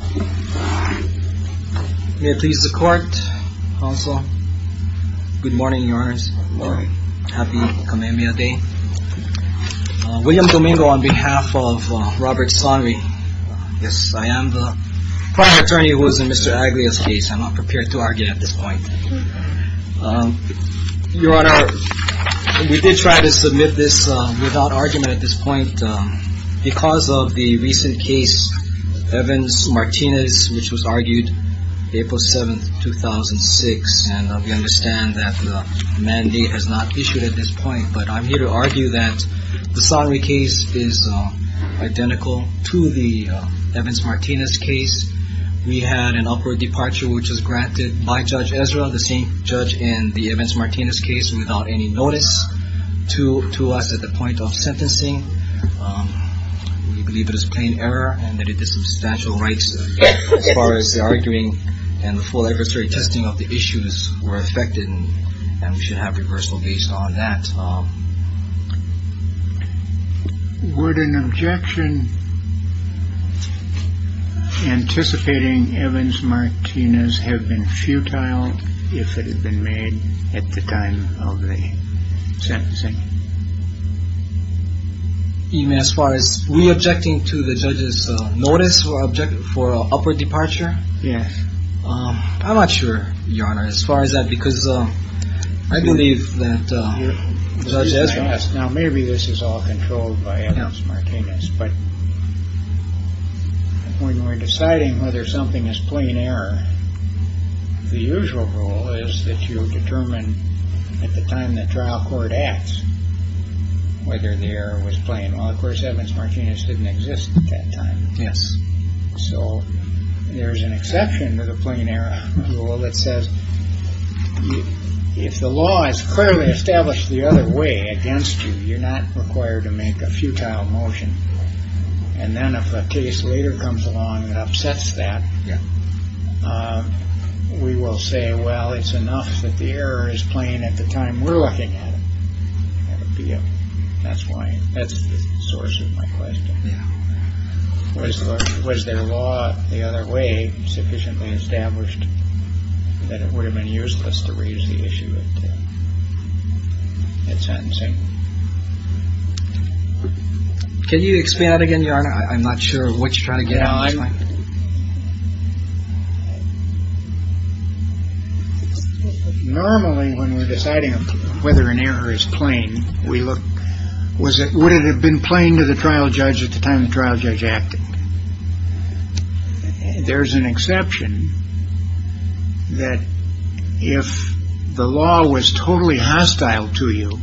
May it please the court, counsel. Good morning, your honors. Happy Kamehameha Day. William Domingo on behalf of Robert Sohnrey. Yes, I am the primary attorney who was in Mr. Aguilar's case. I'm not prepared to argue at this point. Your honor, we did try to submit this without Evans-Martinez, which was argued April 7th, 2006. And we understand that the mandate is not issued at this point, but I'm here to argue that the Sohnrey case is identical to the Evans-Martinez case. We had an upward departure, which was granted by Judge Ezra, the same judge in the Evans-Martinez case, without any notice to us at the point of sentencing. We believe it is plain error and that it is substantial rights as far as the arguing and the full adversary testing of the issues were affected. And we should have reversal based on that. Would an objection anticipating Evans-Martinez have been futile if it had been made at the time of the sentencing? Even as far as we objecting to the judge's notice or object for an upward departure? Yes. I'm not sure, your honor, as far as that, because I believe that Judge Ezra. Now, maybe this is all controlled by Evans-Martinez, but when we're deciding whether something is plain error, the usual rule is that you determine at the time the trial court acts whether the error was plain. Well, of course, Evans-Martinez didn't exist at that time. Yes. So there's an exception to the plain error rule that says if the law is clearly established the other way against you, you're not required to make a futile motion. And then if a case later comes along that upsets that, we will say, well, it's enough that the error is plain at the time we're looking at it. That's the source of my question. Yeah. Was their law the other way, sufficiently established, that it would have been useless to raise the issue at sentencing? Can you explain that again, your honor? I'm not sure what you're trying to get at. Normally, when we're deciding whether an error is plain, we look, would it have been plain to the trial judge at the time the trial judge acted? There's an exception that if the law was totally hostile to you,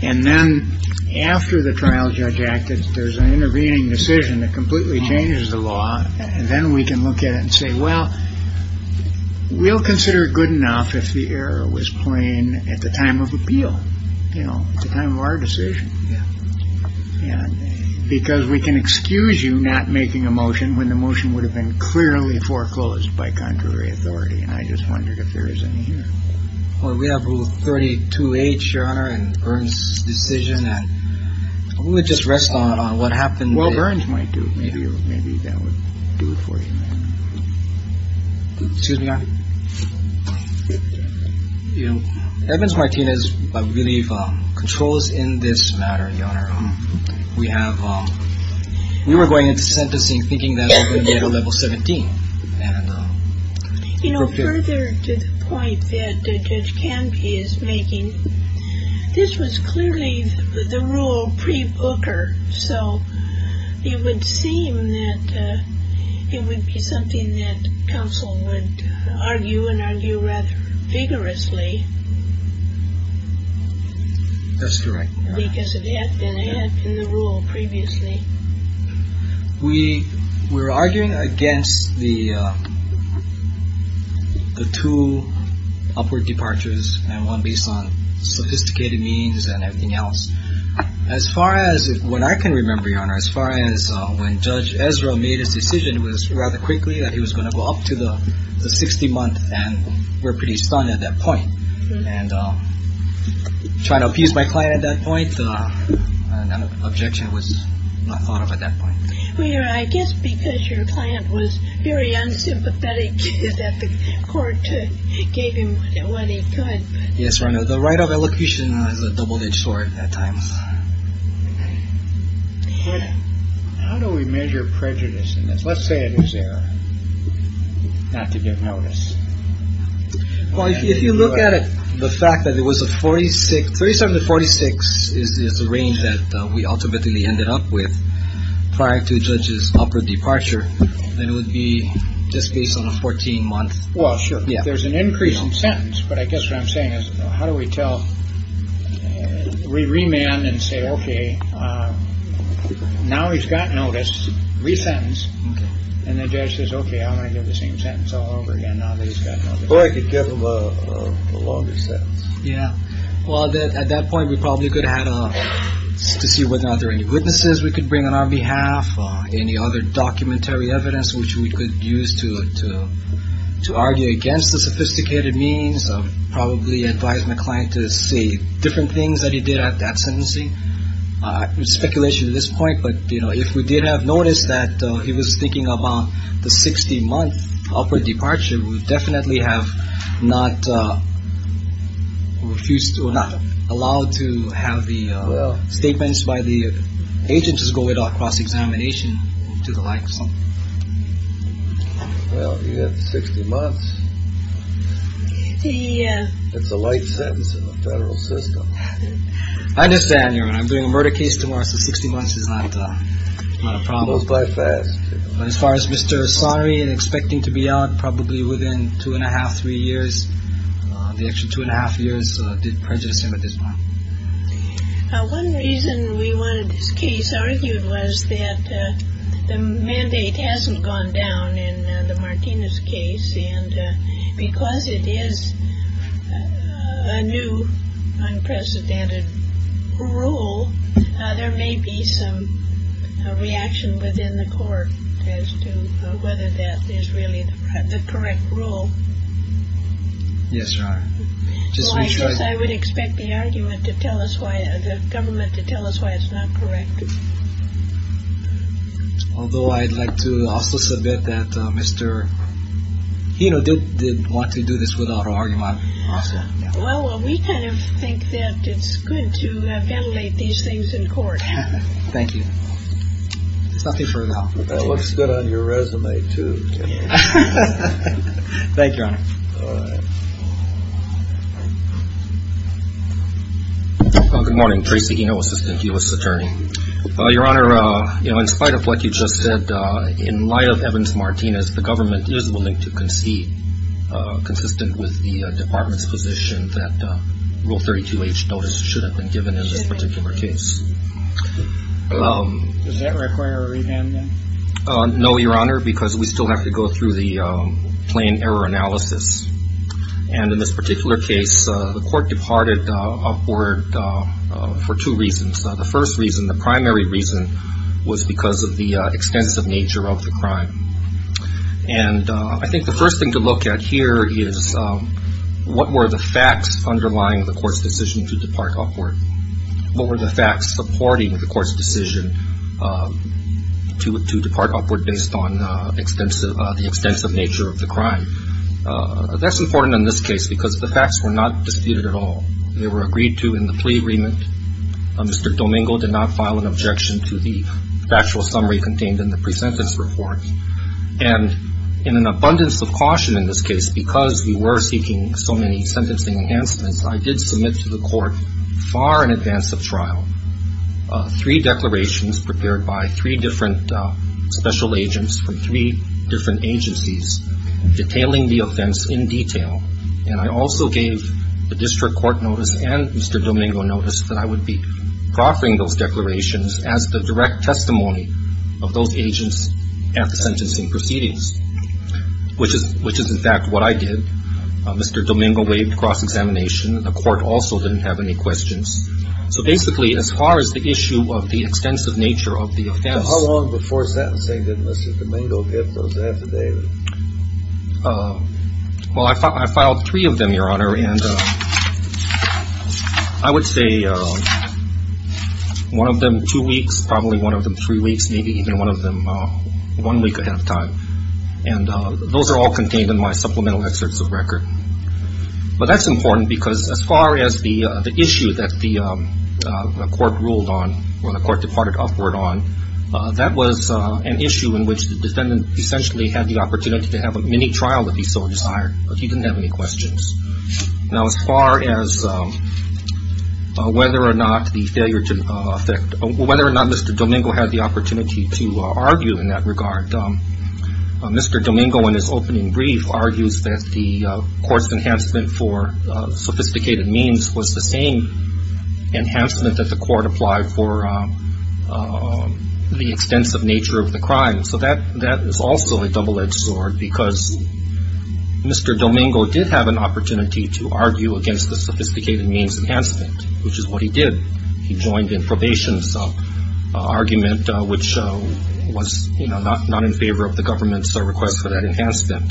and then after the trial judge acted, there's an intervening decision that completely changes the law, then we can look at it and say, well, we'll consider it good enough if the error was plain at the time of appeal. You know, at the time of our decision. Yeah. Because we can excuse you not making a motion when the motion would have been clearly foreclosed by contrary authority. And I just wondered if there is any here. Well, we have rule 32H, your honor, and Burns decision. We'll just rest on what happened. Well, Burns might do it. Maybe. Maybe that would do it for you. Excuse me. Evans Martinez, I believe, controls in this matter, your honor. We have we were going into sentencing thinking that we're going to get a level 17. You know, further to the point that Judge Canby is making, this was clearly the rule pre Booker. So it would seem that it would be something that counsel would argue and argue rather vigorously. That's correct. Because it had been in the rule previously. We were arguing against the two upward departures and one based on sophisticated means and everything else. As far as what I can remember, your honor, as far as when Judge Ezra made his decision, it was rather quickly that he was going to go up to the 60 month. And we're pretty stunned at that point. And trying to appease my client at that point. Objection was not thought of at that point. We are, I guess, because your client was very unsympathetic that the court gave him what he could. Yes, your honor. The right of allocation is a double-edged sword at times. How do we measure prejudice? Let's say it is there. Not to give notice. Well, if you look at it, the fact that it was a 46, 37 to 46 is the range that we ultimately ended up with prior to Judge's upward departure. And it would be just based on a 14 month. Well, sure. There's an increase in sentence. But I guess what I'm saying is, how do we tell we remand and say, OK, now he's got notice, resentence. And the judge says, OK, I'm going to give the same sentence all over again. Well, I could give him a longer sentence. Yeah. Well, at that point, we probably could have had to see whether or not there any witnesses we could bring on our behalf. Any other documentary evidence which we could use to to to argue against the sophisticated means of probably advise my client to say different things that he did at that sentencing. Speculation at this point. But, you know, if we did have noticed that he was thinking about the 60 month upward departure, we would definitely have not refused to or not allowed to have the statements by the agents as go it across examination to the likes of. Well, you have 60 months. It's a light sentence in the federal system. I understand. I'm doing a murder case tomorrow. So 60 months is not a problem. But as far as Mr. Asari and expecting to be out probably within two and a half, three years, the extra two and a half years did prejudice him at this point. One reason we wanted this case argued was that the mandate hasn't gone down in the Martinez case and because it is a new unprecedented rule. There may be some reaction within the court as to whether that is really the correct rule. Yes. I just wish I would expect the argument to tell us why the government to tell us why it's not correct. Although I'd like to also submit that Mr. Hino did want to do this without argument. Well, we kind of think that it's good to ventilate these things in court. Thank you. It's nothing further. That looks good on your resume, too. Thank you. Good morning, Tracy. You know, Assistant U.S. Attorney, your honor, in spite of what you just said, in light of Evans Martinez, the government is willing to concede consistent with the department's position that Rule 32H notice should have been given in this particular case. Does that require a revamp? No, your honor, because we still have to go through the plain error analysis. And in this particular case, the court departed upward for two reasons. The first reason, the primary reason, was because of the extensive nature of the crime. And I think the first thing to look at here is what were the facts underlying the court's decision to depart upward? What were the facts supporting the court's decision to depart upward based on the extensive nature of the crime? That's important in this case because the facts were not disputed at all. They were agreed to in the plea agreement. Mr. Domingo did not file an objection to the factual summary contained in the pre-sentence report. And in an abundance of caution in this case, because we were seeking so many sentencing enhancements, I did submit to the court far in advance of trial three declarations prepared by three different special agents from three different agencies detailing the offense in detail. And I also gave the district court notice and Mr. Domingo notice that I would be proffering those declarations as the direct testimony of those agents at the sentencing proceedings, which is in fact what I did. Mr. Domingo waived cross-examination. The court also didn't have any questions. So basically, as far as the issue of the extensive nature of the offense. How long before sentencing did Mr. Domingo get those affidavits? Well, I filed three of them, Your Honor, and I would say one of them two weeks, probably one of them three weeks, maybe even one of them one week ahead of time. And those are all contained in my supplemental excerpts of record. But that's important because as far as the issue that the court ruled on, or the court departed upward on, that was an issue in which the defendant essentially had the opportunity to have a mini-trial if he so desired, but he didn't have any questions. Now, as far as whether or not the failure to effect, whether or not Mr. Domingo had the opportunity to argue in that regard, Mr. Domingo in his opening brief argues that the court's enhancement for sophisticated means was the same enhancement that the court applied for the extensive nature of the crime. So that is also a double-edged sword because Mr. Domingo did have an opportunity to argue against the sophisticated means enhancement, which is what he did. He joined in probation's argument, which was not in favor of the government's request for that enhancement.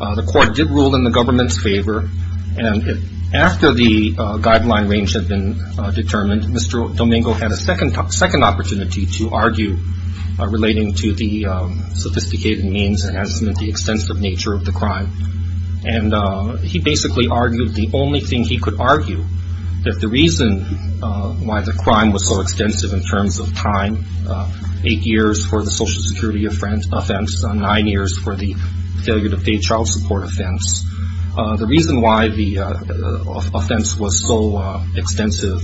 The court did rule in the government's favor, and after the guideline range had been determined, Mr. Domingo had a second opportunity to argue relating to the sophisticated means enhancement, the extensive nature of the crime. And he basically argued the only thing he could argue, that the reason why the crime was so extensive in terms of time, eight years for the Social Security offense, nine years for the failure to pay child support offense, the reason why the offense was so extensive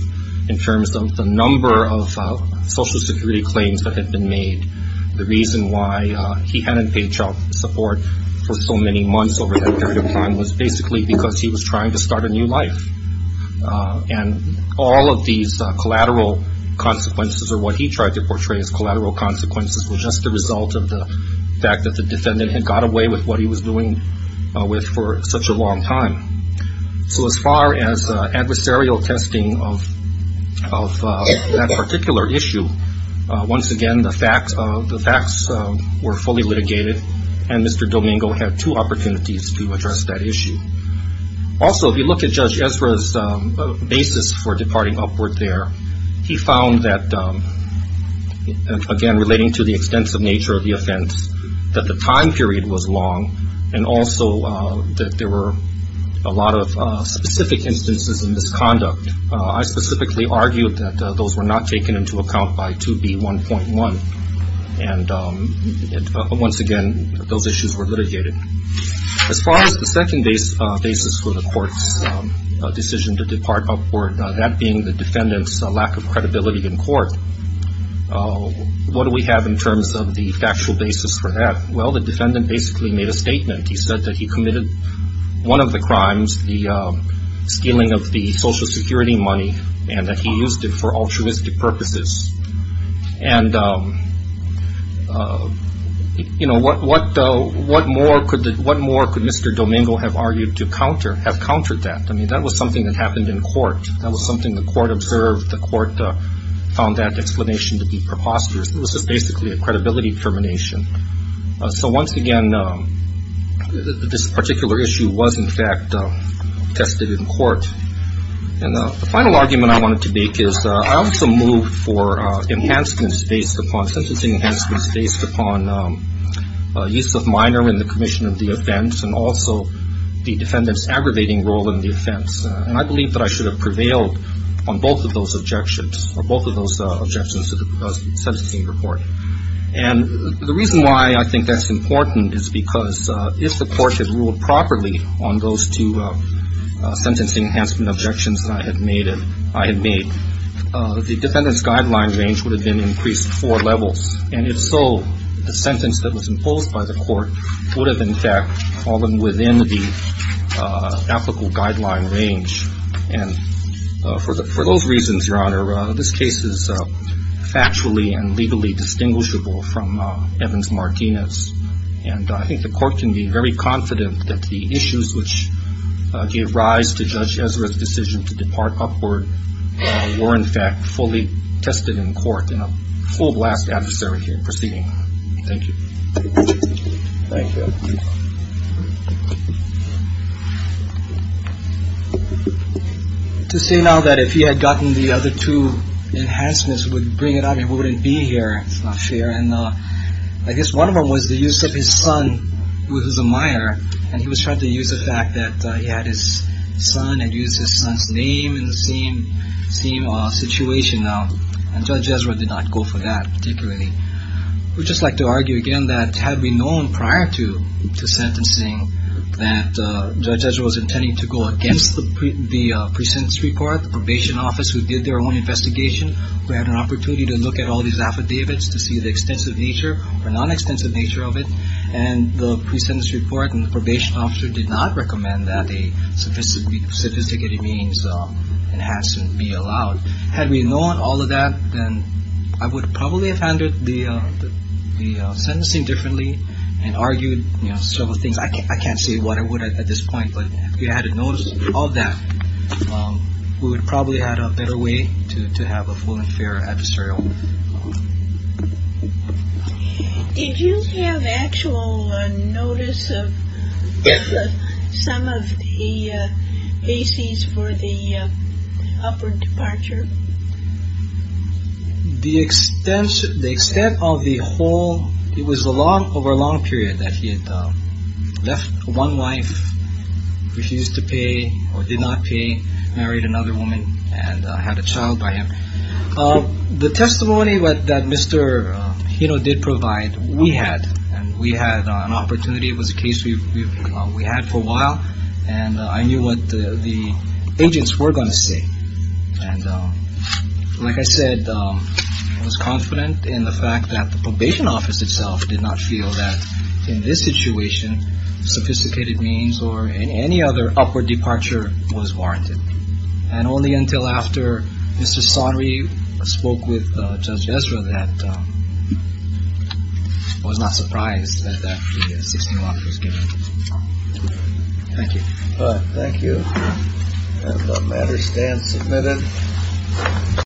in terms of the number of Social Security claims that had been made, the reason why he hadn't paid child support for so many months over that period of time was basically because he was trying to start a new life. And all of these collateral consequences, or what he tried to portray as collateral consequences, were just the result of the fact that the defendant had got away with what he was doing with for such a long time. So as far as adversarial testing of that particular issue, once again, the facts were fully litigated, and Mr. Domingo had two opportunities to address that issue. Also, if you look at Judge Ezra's basis for departing upward there, he found that, again, relating to the extensive nature of the offense, that the time period was long, and also that there were a lot of specific instances of misconduct. I specifically argued that those were not taken into account by 2B1.1. And once again, those issues were litigated. As far as the second basis for the court's decision to depart upward, that being the defendant's lack of credibility in court, what do we have in terms of the factual basis for that? Well, the defendant basically made a statement. He said that he committed one of the crimes, the stealing of the Social Security money, and that he used it for altruistic purposes. And, you know, what more could Mr. Domingo have argued to counter, have countered that? I mean, that was something that happened in court. That was something the court observed. The court found that explanation to be preposterous. It was just basically a credibility determination. So once again, this particular issue was, in fact, tested in court. And the final argument I wanted to make is I also moved for enhancements based upon, sentencing enhancements based upon use of minor in the commission of the offense and also the defendant's aggravating role in the offense. And I believe that I should have prevailed on both of those objections, on both of those objections to the sentencing report. And the reason why I think that's important is because if the court had ruled properly on those two sentencing enhancement objections that I had made, the defendant's guideline range would have been increased four levels. And if so, the sentence that was imposed by the court would have, in fact, fallen within the applicable guideline range. And for those reasons, Your Honor, this case is factually and legally distinguishable from Evans-Martinez. And I think the court can be very confident that the issues which gave rise to Judge Ezra's decision to depart upward were, in fact, fully tested in court in a full blast adversary here proceeding. Thank you. To say now that if he had gotten the other two enhancements would bring it up, he wouldn't be here. It's not fair. And I guess one of them was the use of his son, who is a minor. And he was trying to use the fact that he had his son and used his son's name in the same situation. And Judge Ezra did not go for that particularly. I would just like to argue again that had we known prior to sentencing that Judge Ezra was intending to go against the pre-sentence report, the probation office who did their own investigation, we had an opportunity to look at all these affidavits to see the extensive nature or non-extensive nature of it. And the pre-sentence report and the probation officer did not recommend that a sophisticated means enhancement be allowed. Had we known all of that, then I would probably have handled the sentencing differently and argued several things. I can't say what I would at this point. But if we had noticed all that, we would probably have had a better way to have a full and fair adversarial. Did you have actual notice of some of the bases for the upward departure? The extent of the whole, it was over a long period that he had left one wife, refused to pay or did not pay, married another woman and had a child by him. The testimony that Mr. Hino did provide, we had. And we had an opportunity. It was a case we had for a while. And I knew what the agents were going to say. And like I said, I was confident in the fact that the probation office itself did not feel that in this situation, sophisticated means or any other upward departure was warranted. And only until after Mr. Sonry spoke with Judge Ezra that I was not surprised that that was given. Thank you. Thank you. Matter stands submitted.